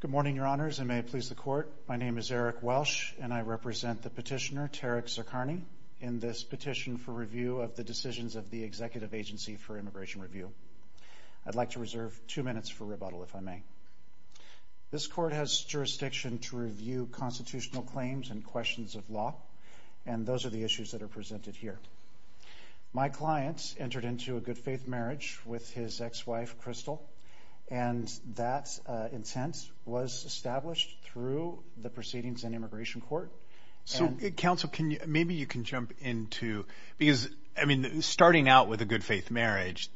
Good morning, Your Honors, and may it please the Court, my name is Eric Welsh, and I represent the petitioner, Tarek Zarkarneh, in this petition for review of the decisions of the Executive Agency for Immigration Review. I'd like to reserve two minutes for rebuttal, if I may. This Court has jurisdiction to review constitutional claims and questions of law, and those are the issues that are presented here. My client entered into a good-faith marriage with his ex-wife, Crystal, and that incent was established through the Proceedings and Immigration Court. So Counsel, maybe you can jump into, because, I mean, starting out with a good-faith marriage,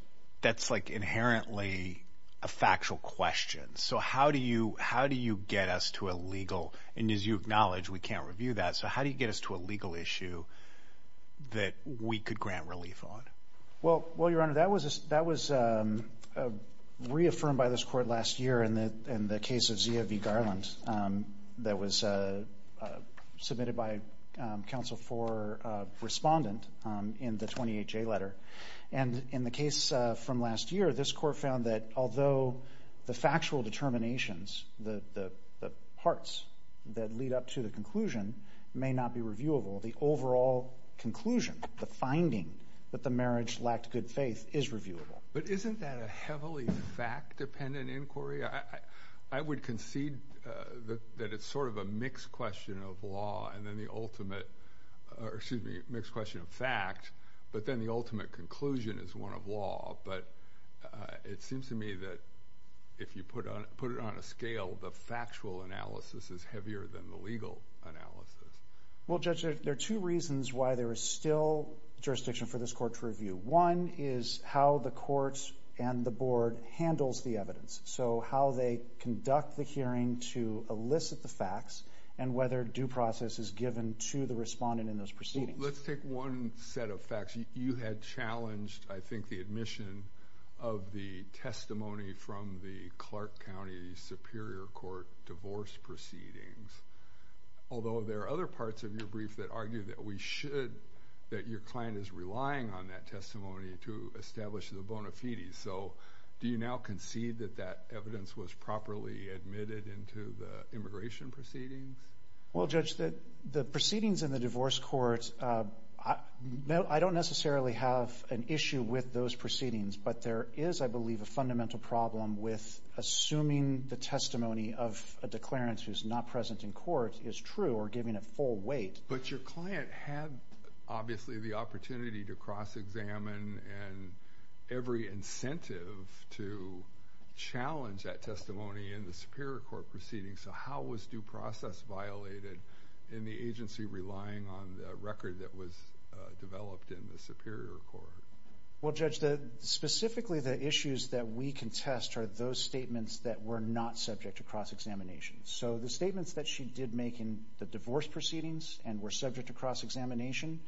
that's like inherently a factual question. So how do you get us to a legal, and as you that we could grant relief on? Well, Your Honor, that was reaffirmed by this Court last year in the case of Zia v. Garland, that was submitted by Counsel for Respondent in the 28J letter. And in the case from last year, this Court found that although the factual determinations, the parts that lead up to the conclusion, may not be reviewable, the overall conclusion, the finding that the marriage lacked good faith is reviewable. But isn't that a heavily fact-dependent inquiry? I would concede that it's sort of a mixed question of law, and then the ultimate, or excuse me, mixed question of fact, but then the ultimate conclusion is one of law. But it seems to me that if you put it on a scale, the factual analysis is heavier than the legal analysis. Well, Judge, there are two reasons why there is still jurisdiction for this Court to review. One is how the Court and the Board handles the evidence. So how they conduct the hearing to elicit the facts, and whether due process is given to the Respondent in those Proceedings. Let's take one set of facts. You had challenged, I think, the admission of the testimony from the Clark County Superior Court divorce proceedings. Although there are other parts of your brief that argue that we should, that your client is relying on that testimony to establish the bona fides. So do you now concede that that evidence was properly admitted into the immigration proceedings? Well, Judge, the proceedings in the divorce court, I don't necessarily have an issue with those proceedings, but there is, I believe, a fundamental problem with assuming the testimony of a declarant who's not present in court is true, or giving it full weight. But your client had, obviously, the opportunity to cross-examine, and every incentive to challenge that testimony in the Superior Court proceedings. So how was due process violated in the agency relying on the record that was developed in the Superior Court? Well, Judge, specifically the issues that we contest are those statements that were not subject to cross-examination. So the statements that she did make in the divorce proceedings and were subject to cross-examination,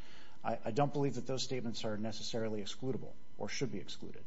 I don't believe that those statements are necessarily excludable, or should be excluded.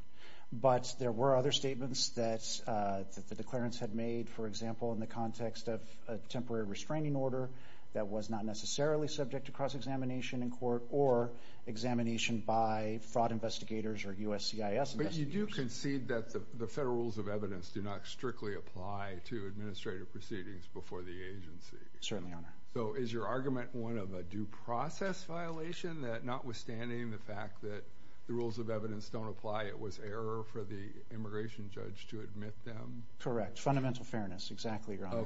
But there were other statements that the declarants had made, for example, in the context of a temporary restraining order that was not necessarily subject to cross-examination in court, or examination by fraud investigators or USCIS investigators. But you do concede that the federal rules of evidence do not strictly apply to administrative proceedings before the agency. Certainly, Your Honor. So is your argument one of a due process violation, that notwithstanding the fact that the rules of evidence don't apply, it was error for the immigration judge to admit them? Correct. Fundamental fairness. Exactly, Your Honor.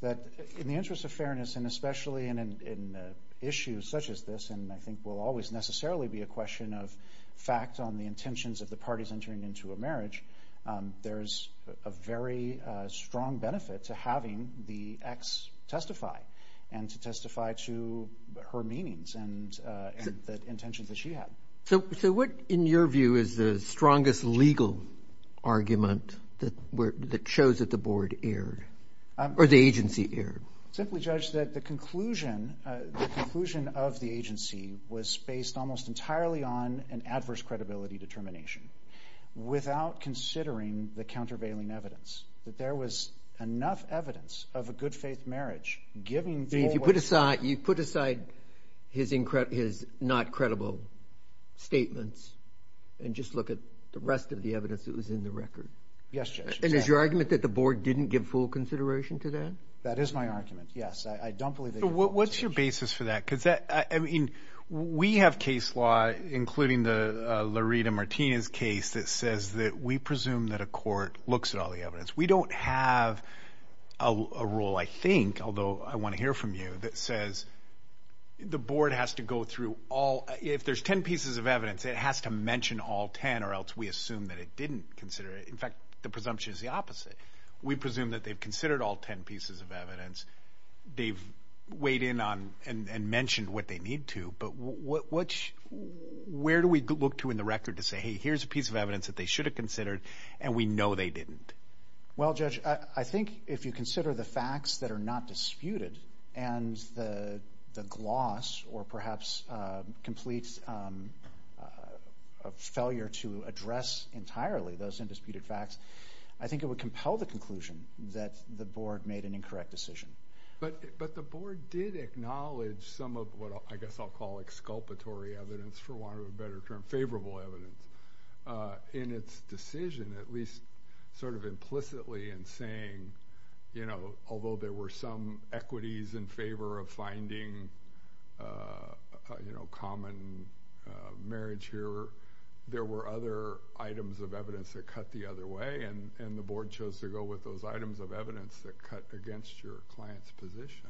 That in the interest of fairness, and especially in issues such as this, and I think will always necessarily be a question of facts on the intentions of the parties entering into a marriage, there's a very strong benefit to having the ex testify. And to testify to her meanings and the intentions that she had. So what, in your view, is the strongest legal argument that shows that the board erred? Or the agency erred? Simply, Judge, that the conclusion of the agency was based almost entirely on an adverse credibility determination. Without considering the countervailing evidence. That there was enough evidence of a good faith marriage. If you put aside his not credible statements, and just look at the rest of the evidence that was in the record. Yes, Judge. And is your argument that the board didn't give full consideration to that? That is my argument, yes. I don't believe they gave full consideration. What's your basis for that? Because that, I mean, we have case law, including the Larita Martinez case, that says that we presume that a court looks at all the evidence. We don't have a rule, I think, although I want to hear from you, that says the board has to go through all, if there's 10 pieces of evidence, it has to mention all 10, or else we assume that it didn't consider it. In fact, the presumption is the opposite. We presume that they've considered all 10 pieces of evidence. They've weighed in on and mentioned what they need to. But where do we look to in the record to say, hey, here's a piece of evidence that they should have considered, and we know they didn't? Well, Judge, I think if you consider the facts that are not disputed, and the gloss, or perhaps complete failure to address entirely those undisputed facts, I think it would compel the conclusion that the board made an incorrect decision. But the board did acknowledge some of what I guess I'll call exculpatory evidence, for want of a better term, favorable evidence. In its decision, at least sort of implicitly in saying, you know, although there were some equities in favor of finding a common marriage here, there were other items of evidence that cut the other way, and the board chose to go with those items of evidence that cut against your client's position.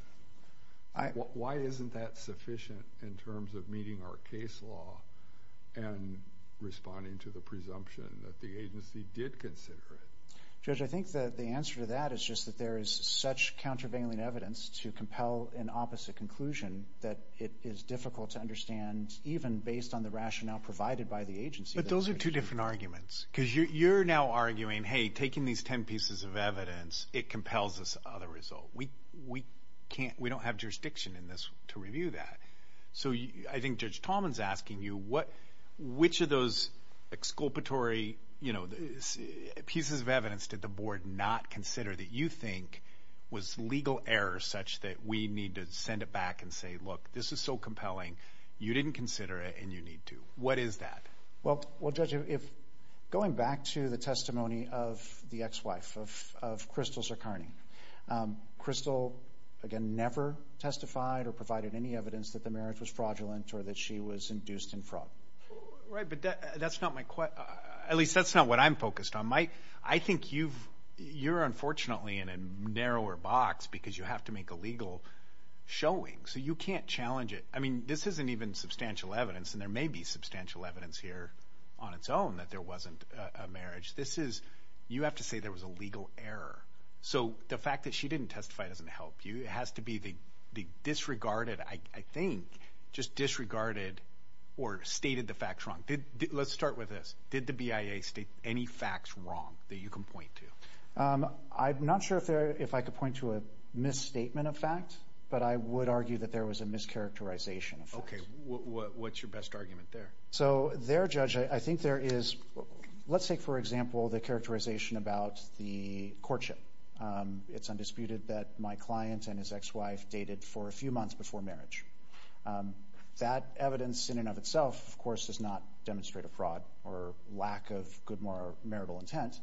Why isn't that sufficient in terms of meeting our case law and responding to the presumption that the agency did consider it? Judge, I think the answer to that is just that there is such countervailing evidence to compel an opposite conclusion that it is difficult to understand, even based on the rationale provided by the agency. But those are two different arguments. Because you're now arguing, hey, taking these 10 pieces of evidence, it compels this other result. We can't, we don't have jurisdiction in this to review that. So I think Judge Tallman's asking you what, which of those exculpatory, you know, pieces of evidence did the board not consider that you think was legal error such that we need to send it back and say, look, this is so compelling, you didn't consider it and you need to. What is that? Well, Judge, going back to the testimony of the ex-wife of Crystal Cercani, Crystal, again, never testified or provided any evidence that the marriage was fraudulent or that she was induced in fraud. Right, but that's not my, at least that's not what I'm focused on. My, I think you've, you're unfortunately in a narrower box because you have to make a legal showing. So you can't challenge it. I mean, this isn't even substantial evidence, and there may be substantial evidence here on its own that there wasn't a marriage. This is, you have to say there was a legal error. So the fact that she didn't testify doesn't help you. It has to be the disregarded, I think, just disregarded or stated the facts wrong. Let's start with this. Did the BIA state any facts wrong that you can point to? I'm not sure if there, if I could point to a misstatement of fact, but I would argue that there was a mischaracterization. Okay, what's your best argument there? So their judge, I think there is, let's say for example, the characterization about the courtship. It's undisputed that my client and his ex-wife dated for a few months before marriage. That evidence in and of itself, of course, does not demonstrate a fraud or lack of good moral marital intent.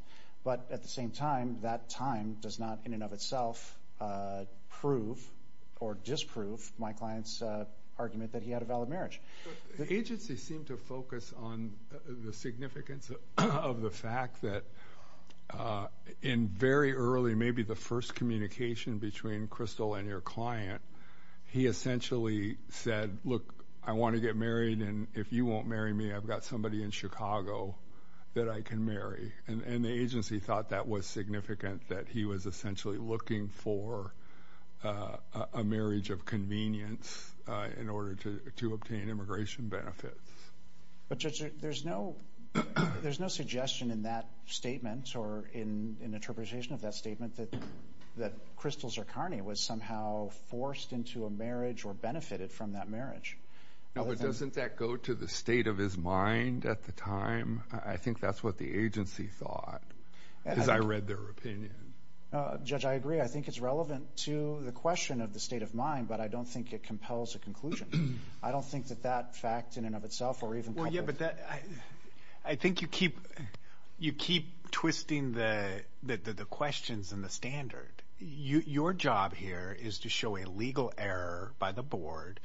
But at the same time, that time does not in and of itself prove or disprove my client's argument that he had a valid marriage. Agencies seem to focus on the significance of the fact that in very early, maybe the first communication between Crystal and your client, he essentially said, look, I want to get married. And if you won't marry me, I've got somebody in Chicago that I can marry. And the agency thought that was significant, that he was essentially looking for a marriage of convenience in order to obtain immigration benefits. But Judge, there's no suggestion in that statement or in interpretation of that statement that Crystal Zircani was somehow forced into a marriage or benefited from that marriage. No, but doesn't that go to the state of his mind at the time? I think that's what the agency thought. I read their opinion. Judge, I agree. I think it's relevant to the question of the state of mind, but I don't think it compels a conclusion. I don't think that that fact in and of itself or even... Well, yeah, but I think you keep twisting the questions and the standard. Your job here is to show a legal error by the board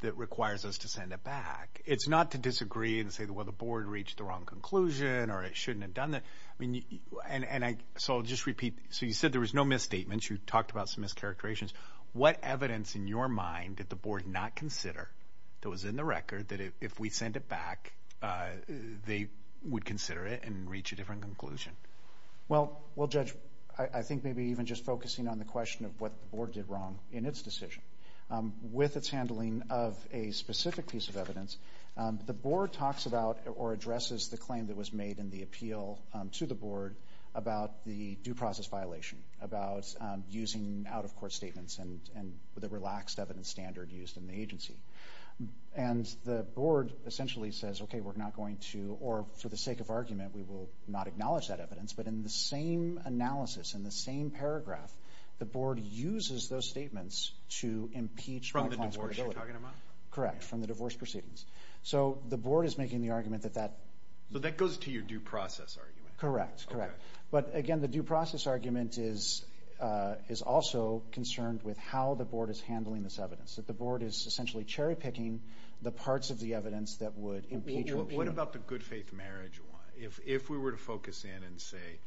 that requires us to send it back. It's not to disagree and say, well, the board reached the wrong conclusion or it shouldn't have done that. And so I'll just repeat. So you said there was no misstatements. You talked about some mischaracterizations. What evidence in your mind did the board not consider that was in the record that if we send it back, they would consider it and reach a different conclusion? Well, Judge, I think maybe even just focusing on the question of what the board did wrong in its decision. With its handling of a specific piece of evidence, the board talks about or addresses the claim that was made in the appeal to the board about the due process violation, about using out-of-court statements and the relaxed evidence standard used in the agency. And the board essentially says, okay, we're not going to, or for the sake of argument, we will not acknowledge that evidence. But in the same analysis, in the same paragraph, the board uses those statements to impeach... From the divorce you're talking about? Correct, from the divorce proceedings. So the board is making the argument that that... That goes to your due process argument? Correct, correct. But again, the due process argument is also concerned with how the board is handling this evidence, that the board is essentially cherry-picking the parts of the evidence that would impeach... What about the good faith marriage one? If we were to focus in and say,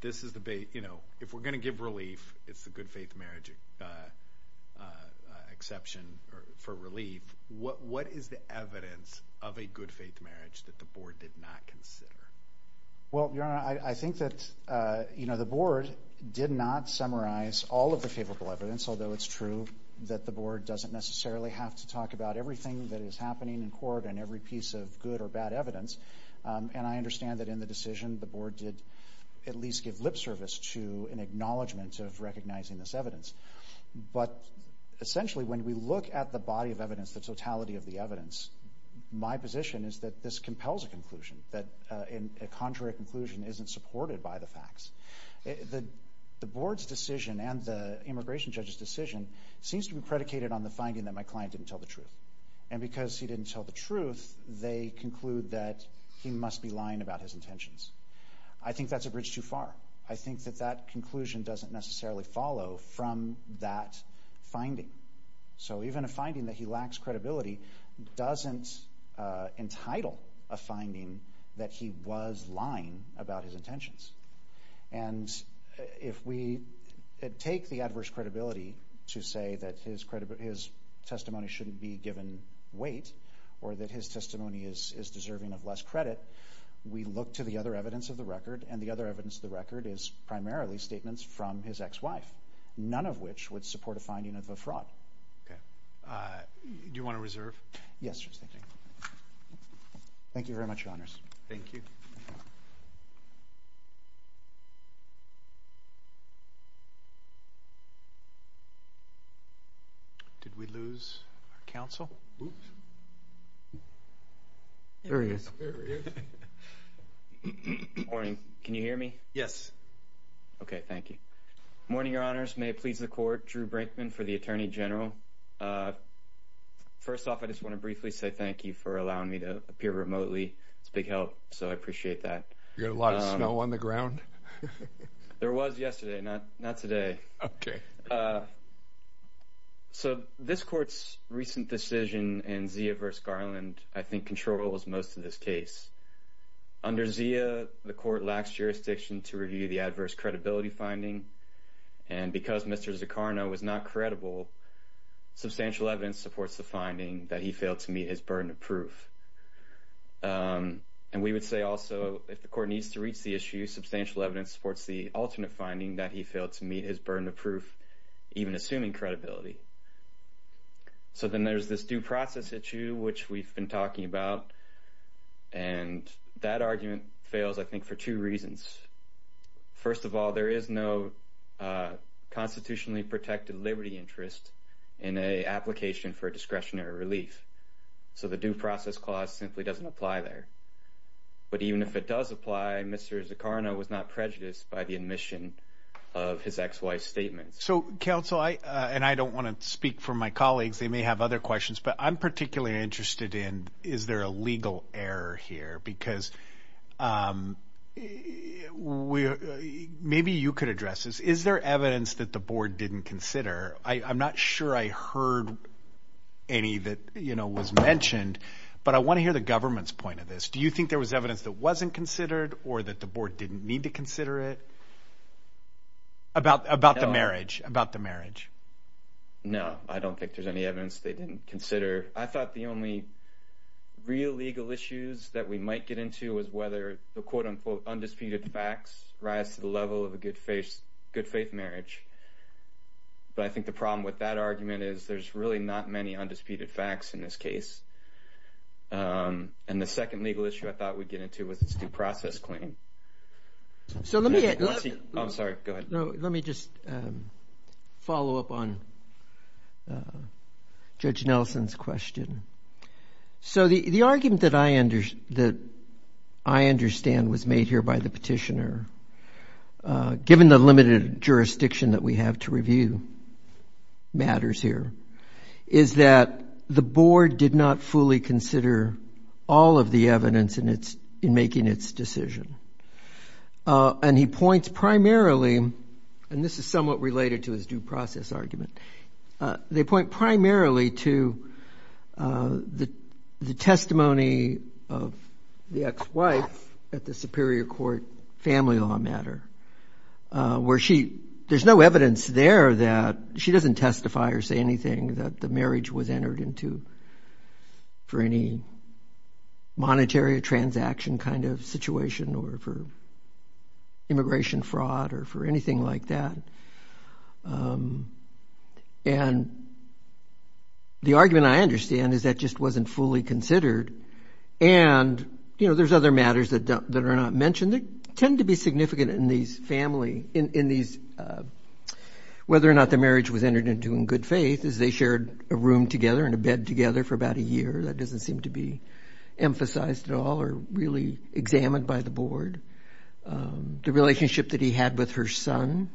this is the... If we're going to give relief, it's the good faith marriage exception for relief. What is the evidence of a good faith marriage that the board did not consider? Well, Your Honor, I think that the board did not summarize all of the favorable evidence, although it's true that the board doesn't necessarily have to talk about everything that is happening in court and every piece of good or bad evidence. And I understand that in the decision, the board did at least give lip service to an acknowledgement of recognizing this evidence. But essentially, when we look at the body of evidence, the totality of the evidence, my position is that this compels a conclusion, that a contrary conclusion isn't supported by the facts. The board's decision and the immigration judge's decision seems to be predicated on the finding that my client didn't tell the truth. And because he didn't tell the truth, they conclude that he must be lying about his intentions. I think that's a bridge too far. I think that that conclusion doesn't necessarily follow from that finding. So even a finding that he lacks credibility doesn't entitle a finding that he was lying about his intentions. And if we take the adverse credibility to say that his testimony shouldn't be given weight or that his testimony is deserving of less credit, we look to the other evidence of the record, and the other evidence of the record is primarily statements from his ex-wife, none of which would support a finding of a fraud. Okay. Do you want to reserve? Yes, thank you. Thank you very much, Your Honors. Thank you. Did we lose our counsel? There he is. Good morning. Can you hear me? Okay, thank you. Morning, Your Honors. May it please the Court, Drew Brinkman for the Attorney General. First off, I just want to briefly say thank you for allowing me to appear remotely. It's a big help, so I appreciate that. You got a lot of snow on the ground? There was yesterday, not today. Okay. So this Court's recent decision in Zia v. Garland, I think, controls most of this case. Under Zia, the Court lacks jurisdiction to review the adverse credibility finding, and because Mr. Zuccarno was not credible, substantial evidence supports the finding that he failed to meet his burden of proof. And we would say also, if the Court needs to reach the issue, substantial evidence supports the alternate finding that he failed to meet his burden of proof, even assuming credibility. So then there's this due process issue, which we've been talking about, and that argument fails, I think, for two reasons. First of all, there is no constitutionally protected liberty interest in an application for discretionary relief, so the due process clause simply doesn't apply there. But even if it does apply, Mr. Zuccarno was not prejudiced by the admission of his ex-wife's statement. So, Counsel, and I don't want to speak for my colleagues, they may have other questions, but I'm particularly interested in, is there a legal error here? Because maybe you could address this. Is there evidence that the Board didn't consider? I'm not sure I heard any that, you know, was mentioned, but I want to hear the government's point of this. Do you think there was evidence that wasn't considered, or that the Board didn't need to consider it? About the marriage, about the marriage. No, I don't think there's any evidence they didn't consider. I thought the only real legal issues that we might get into was whether the, quote-unquote, undisputed facts rise to the level of a good faith marriage. But I think the problem with that argument is there's really not many undisputed facts in this case. And the second legal issue I thought we'd get into was this due process claim. So let me just follow up on Judge Nelson's question. So the argument that I understand was made here by the petitioner, given the limited jurisdiction that we have to review matters here, is that the Board did not fully consider all of the evidence in making its decision. And he points primarily, and this is somewhat related to his due process argument, they point primarily to the testimony of the ex-wife at the Superior Court family law matter, where she, there's no evidence there that, she doesn't testify or say anything that the marriage was entered into for any monetary transaction kind of situation, or for immigration fraud, or for anything like that. And the argument I understand is that just wasn't fully considered. And there's other matters that are not mentioned that tend to be significant in these family, whether or not the marriage was entered into in good faith, as they shared a room together and a bed together for about a year. That doesn't seem to be emphasized at all or really examined by the Board. The relationship that he had with her son,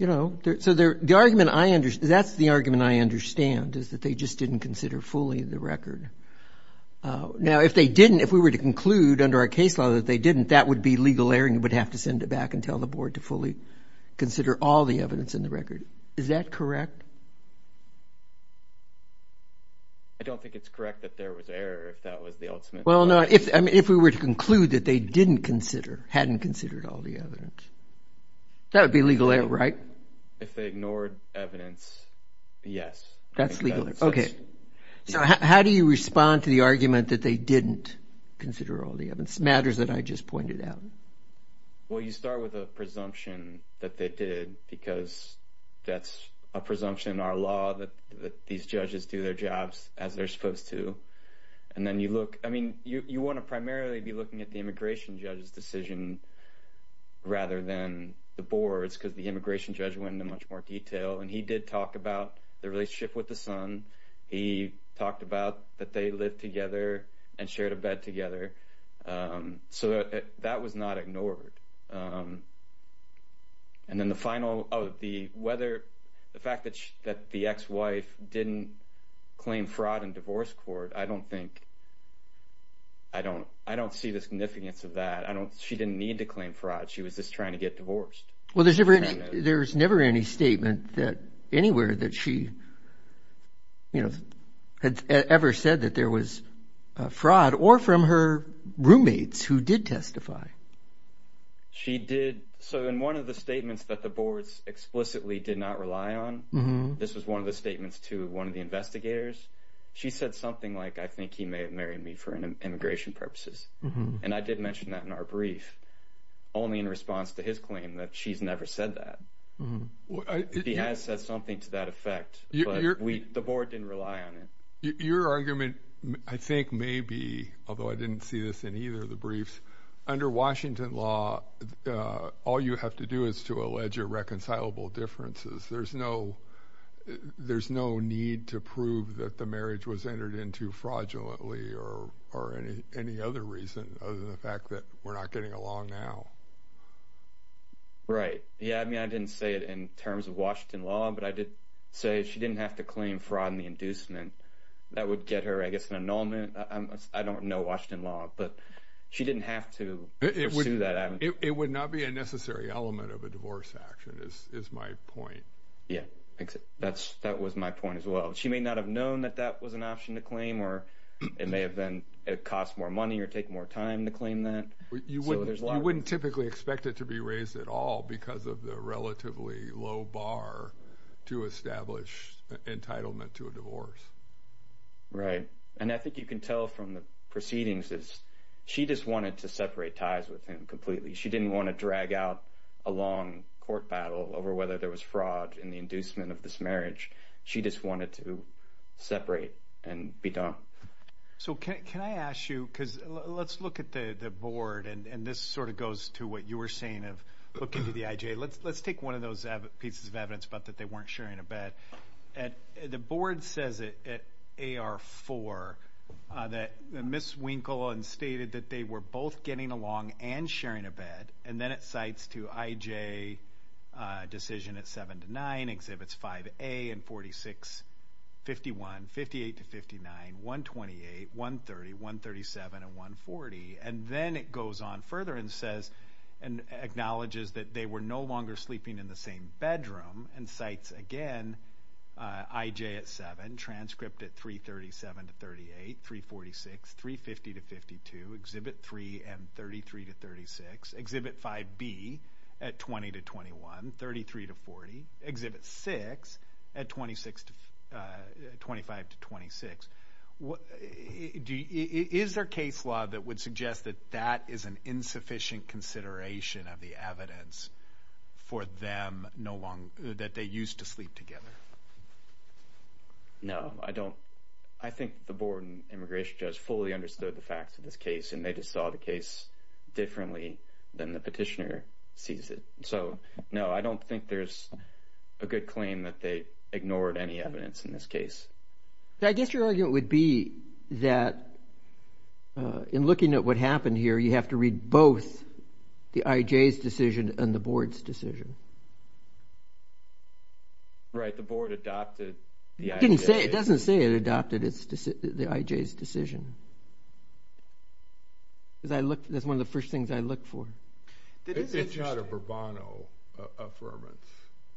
you know, so the argument I understand, that's the argument I understand, is that they just didn't consider fully the record. Now, if they didn't, if we were to conclude under our case law that they didn't, that would be legal error and you would have to send it back and tell the Board to fully consider all the evidence in the record. Is that correct? I don't think it's correct that there was error if that was the ultimate. Well, no, if we were to conclude that they didn't consider, hadn't considered all the evidence, that would be legal error, right? If they ignored evidence, yes. That's legal error. Okay, so how do you respond to the argument that they didn't consider all the evidence, matters that I just pointed out? Well, you start with a presumption that they did because that's a presumption in our law that these judges do their jobs as they're supposed to. And then you look, I mean, you want to primarily be looking at the immigration judge's decision rather than the Board's because the immigration judge went into much more detail. And he did talk about the relationship with the son. He talked about that they lived together and shared a bed together. So that was not ignored. And then the final, oh, the weather, the fact that the ex-wife didn't claim fraud in divorce court, I don't think, I don't see the significance of that. She didn't need to claim fraud. She was just trying to get divorced. Well, there's never any statement that anywhere that she had ever said that there was fraud or from her roommates who did testify. She did. So in one of the statements that the Board's explicitly did not rely on, this was one of the statements to one of the investigators. She said something like, I think he may have married me for immigration purposes. And I did mention that in our brief, only in response to his claim that she's never said that. He has said something to that effect, but the Board didn't rely on it. Your argument, I think maybe, although I didn't see this in either of the briefs, under Washington law, all you have to do is to allege irreconcilable differences. There's no need to prove that the marriage was entered into fraudulently or any other reason other than the fact that we're not getting along now. Right. Yeah, I mean, I didn't say it in terms of Washington law, but I did say she didn't have to claim fraud in the inducement. That would get her, I guess, an annulment. I don't know Washington law, but she didn't have to pursue that. It would not be a necessary element of a divorce action is my point. Yeah, that was my point as well. She may not have known that that was an option to claim and it may have cost more money or take more time to claim that. You wouldn't typically expect it to be raised at all because of the relatively low bar to establish entitlement to a divorce. Right. And I think you can tell from the proceedings is she just wanted to separate ties with him completely. She didn't want to drag out a long court battle over whether there was fraud in the inducement of this marriage. She just wanted to separate and be done. So can I ask you, because let's look at the board and this sort of goes to what you were saying of looking to the IJ. Let's take one of those pieces of evidence about that they weren't sharing a bed. The board says it at AR4 that Ms. Winkle and stated that they were both getting along and sharing a bed and then it cites to IJ decision at 7 to 9, exhibits 5A and 46, 51, 58 to 59, 128, 130, 137 and 140. And then it goes on further and says and acknowledges that they were no longer sleeping in the same bedroom and cites again IJ at 7, transcript at 337 to 38, 346, 350 to 52, exhibit 3 and 33 to 36, exhibit 5B at 20 to 21, 33 to 40, exhibit 6 at 25 to 26. Is there case law that would suggest that that is an insufficient consideration of the evidence for them no longer, that they used to sleep together? No, I don't. I think the board and immigration judge fully understood the facts of this case and they just saw the case differently than the petitioner sees it. So no, I don't think there's a good claim that they ignored any evidence in this case. I guess your argument would be that in looking at what happened here, you have to read both the IJ's decision and the board's decision. Right, the board adopted the IJ's decision. It doesn't say it adopted the IJ's decision. That's one of the first things I look for. It's not a Bourbonno Affirmative.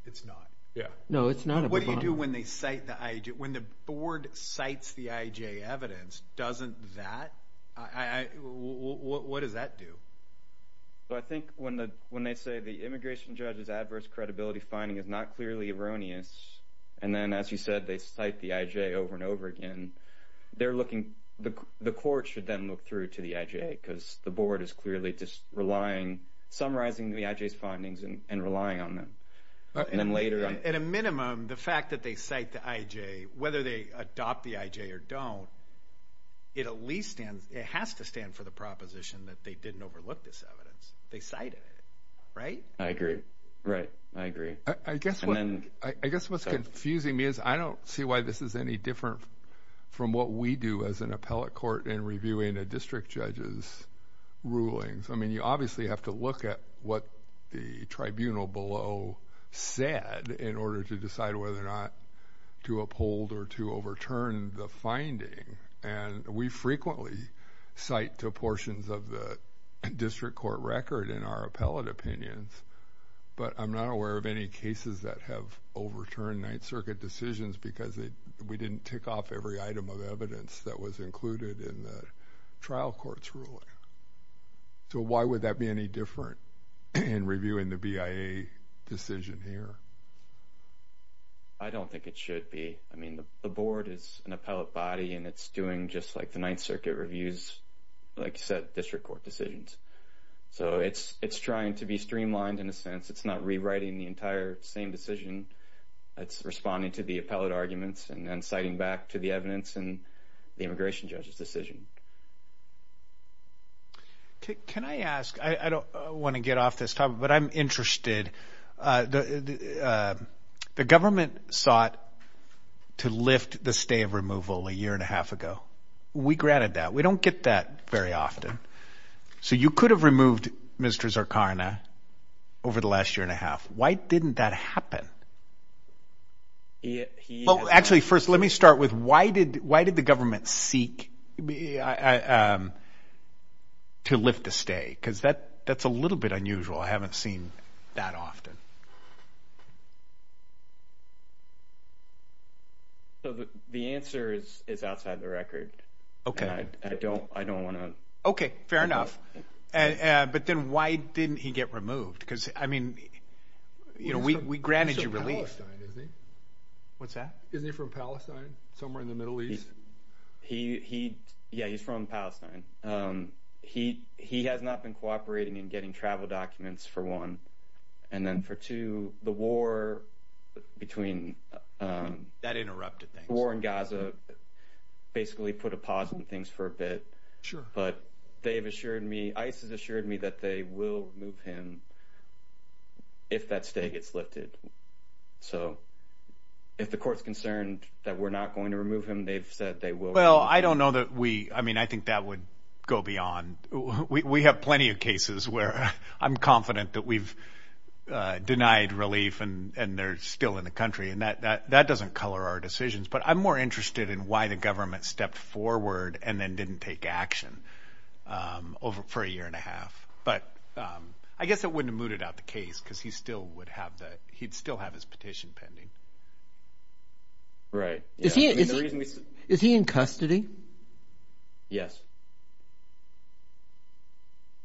It's not? Yeah. No, it's not a Bourbonno. What do you do when they cite the IJ, when the board cites the IJ evidence, doesn't that, what does that do? So I think when they say the immigration judge's adverse credibility finding is not clearly erroneous, and then as you said, they cite the IJ over and over again, they're looking, the court should then look through to the IJ because the board is clearly just relying, summarizing the IJ's findings and relying on them. And then later on... At a minimum, the fact that they cite the IJ, whether they adopt the IJ or don't, it at least stands, it has to stand for the proposition that they didn't overlook this evidence. They cited it, right? I agree. Right, I agree. I guess what's confusing me is I don't see why this is any different from what we do as an appellate court in reviewing a district judge's rulings. I mean, you obviously have to look at what the tribunal below said in order to decide whether or not to uphold or to overturn the finding. And we frequently cite to portions of the district court record in our appellate opinions, but I'm not aware of any cases that have overturned Ninth Circuit decisions because we didn't tick off every item of evidence that was included in the trial court's ruling. So why would that be any different in reviewing the BIA decision here? I don't think it should be. I mean, the board is an appellate body and it's doing just like the Ninth Circuit reviews, like you said, district court decisions. So it's trying to be streamlined in a sense. It's not rewriting the entire same decision. It's responding to the appellate arguments and then citing back to the evidence and the immigration judge's decision. Can I ask, I don't want to get off this topic, but I'm interested. The government sought to lift the stay of removal a year and a half ago. We granted that. We don't get that very often. So you could have removed Mr. Zarkana over the last year and a half. Why didn't that happen? Well, actually first, let me start with why did the government seek to lift the stay? Because that's a little bit unusual. I haven't seen that often. So the answer is outside the record. Okay. I don't want to. Okay, fair enough. But then why didn't he get removed? Because I mean, we granted you relief. He's from Palestine, isn't he? What's that? Isn't he from Palestine? Somewhere in the Middle East? Yeah, he's from Palestine. He has not been cooperating in getting travel documents for one. And then for two, the war between- That interrupted things. War in Gaza basically put a pause in things for a bit. Sure. But they've assured me, ICE has assured me that they will remove him if that stay gets lifted. So if the court's concerned that we're not going to remove him, they've said they will. Well, I don't know that we, I mean, I think that would go beyond. We have plenty of cases where I'm confident that we've denied relief and they're still in the country. And that doesn't color our decisions. But I'm more interested in why the government stepped forward and then didn't take action for a year and a half. But I guess it wouldn't have mooted out the case because he'd still have his petition pending. Right. Is he in custody? Yes.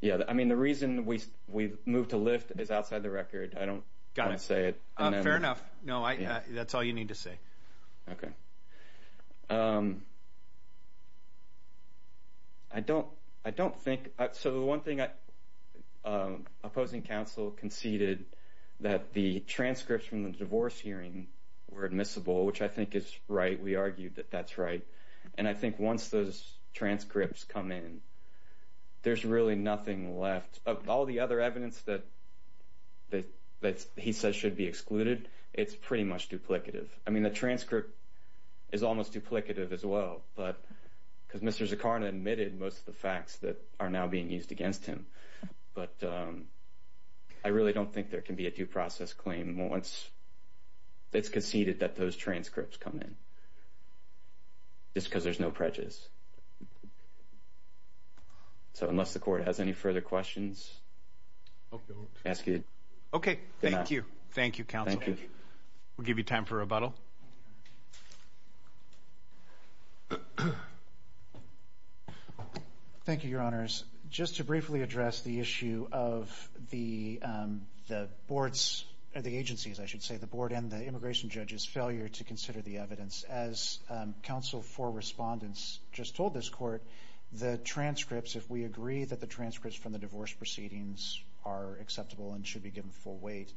Yeah. I mean, the reason we moved to lift is outside the record. I don't want to say it. Fair enough. No, that's all you need to say. I don't think, so the one thing opposing counsel conceded that the transcripts from the divorce hearing were admissible, which I think is right. We argued that that's right. And I think once those transcripts come in, there's really nothing left. All the other evidence that he says should be excluded, it's pretty much duplicative. I mean, the transcript is almost duplicative as well, but because Mr. Zakharna admitted most of the facts that are now being used against him. But I really don't think there can be a due process claim once it's conceded that those transcripts come in, just because there's no prejudice. So unless the court has any further questions, ask it. Okay. Thank you. Thank you, counsel. We'll give you time for rebuttal. Thank you, your honors. Just to briefly address the issue of the boards, or the agencies, I should say, the board and the immigration judge's failure to consider the evidence. As counsel for respondents just told this court, the transcripts, if we agree that the transcripts from the divorce proceedings are acceptable and should be given full weight,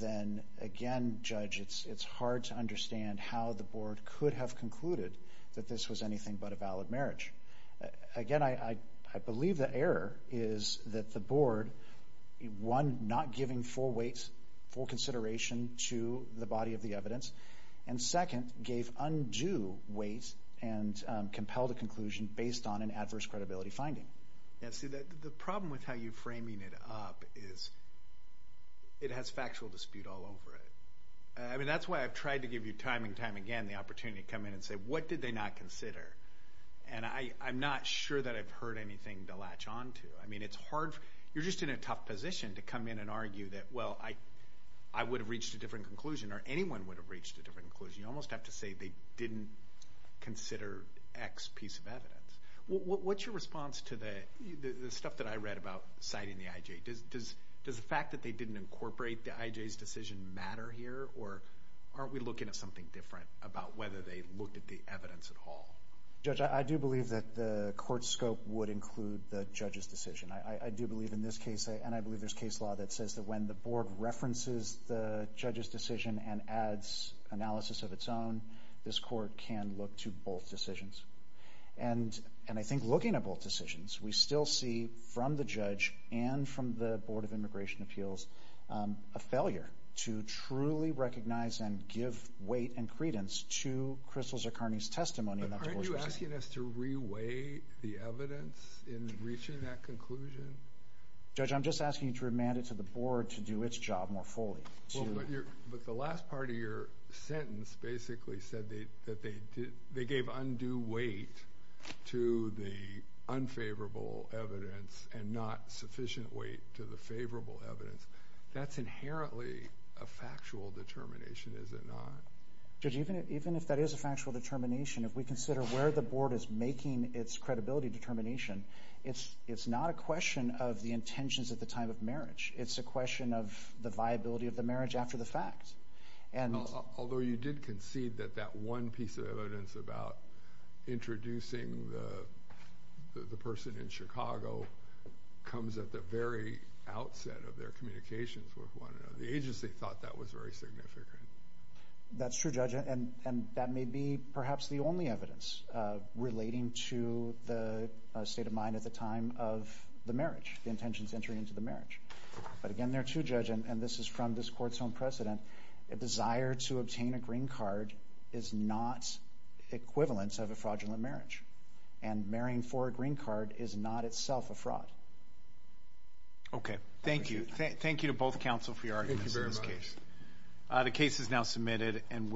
then again, judge, it's hard to understand how the board could have concluded that this was anything but a valid marriage. Again, I believe the error is that the board, one, not giving full weight, full consideration to the body of the evidence, and second, gave undue weight and compelled a conclusion based on an adverse credibility finding. Yeah, see, the problem with how you're framing it up is it has factual dispute all over it. I mean, that's why I've tried to give you time and time again the opportunity to come in and say, what did they not consider? And I'm not sure that I've heard anything to latch on to. I mean, it's hard. You're just in a tough position to come in and argue that, well, I would have reached a different conclusion or anyone would have reached a different conclusion. You almost have to say they didn't consider X piece of evidence. What's your response to the stuff that I read about citing the IJ? Does the fact that they didn't incorporate the IJ's decision matter here, or aren't we looking at something different about whether they looked at the evidence at all? Judge, I do believe that the court's scope would include the judge's decision. I do believe in this case, and I believe there's case law that says that when the board references the judge's decision and adds analysis of its own, this court can look to both decisions. And I think looking at both decisions, we still see from the judge and from the Board of Immigration Appeals a failure to truly recognize and give weight and credence to Crystal Zuccarini's testimony. Aren't you asking us to reweigh the evidence in reaching that conclusion? Judge, I'm just asking you to remand it to the board to do its job more fully. Well, but the last part of your sentence basically said that they gave undue weight to the unfavorable evidence and not sufficient weight to the favorable evidence. That's inherently a factual determination, is it not? Judge, even if that is a factual determination, if we consider where the board is making its credibility determination, it's not a question of the intentions at the time of marriage. It's a question of the viability of the marriage after the fact. Although you did concede that that one piece of evidence about introducing the person in Chicago comes at the very outset of their communications with one another. The agency thought that was very significant. That's true, Judge. And that may be perhaps the only evidence relating to the state of mind at the time of the marriage, the intentions entering into the marriage. But again, there too, Judge, and this is from this court's own precedent, a desire to obtain a green card is not equivalent of a fraudulent marriage. And marrying for a green card is not itself a fraud. Okay, thank you. Thank you to both counsel for your arguments in this case. Thank you very much. The case is now submitted and will...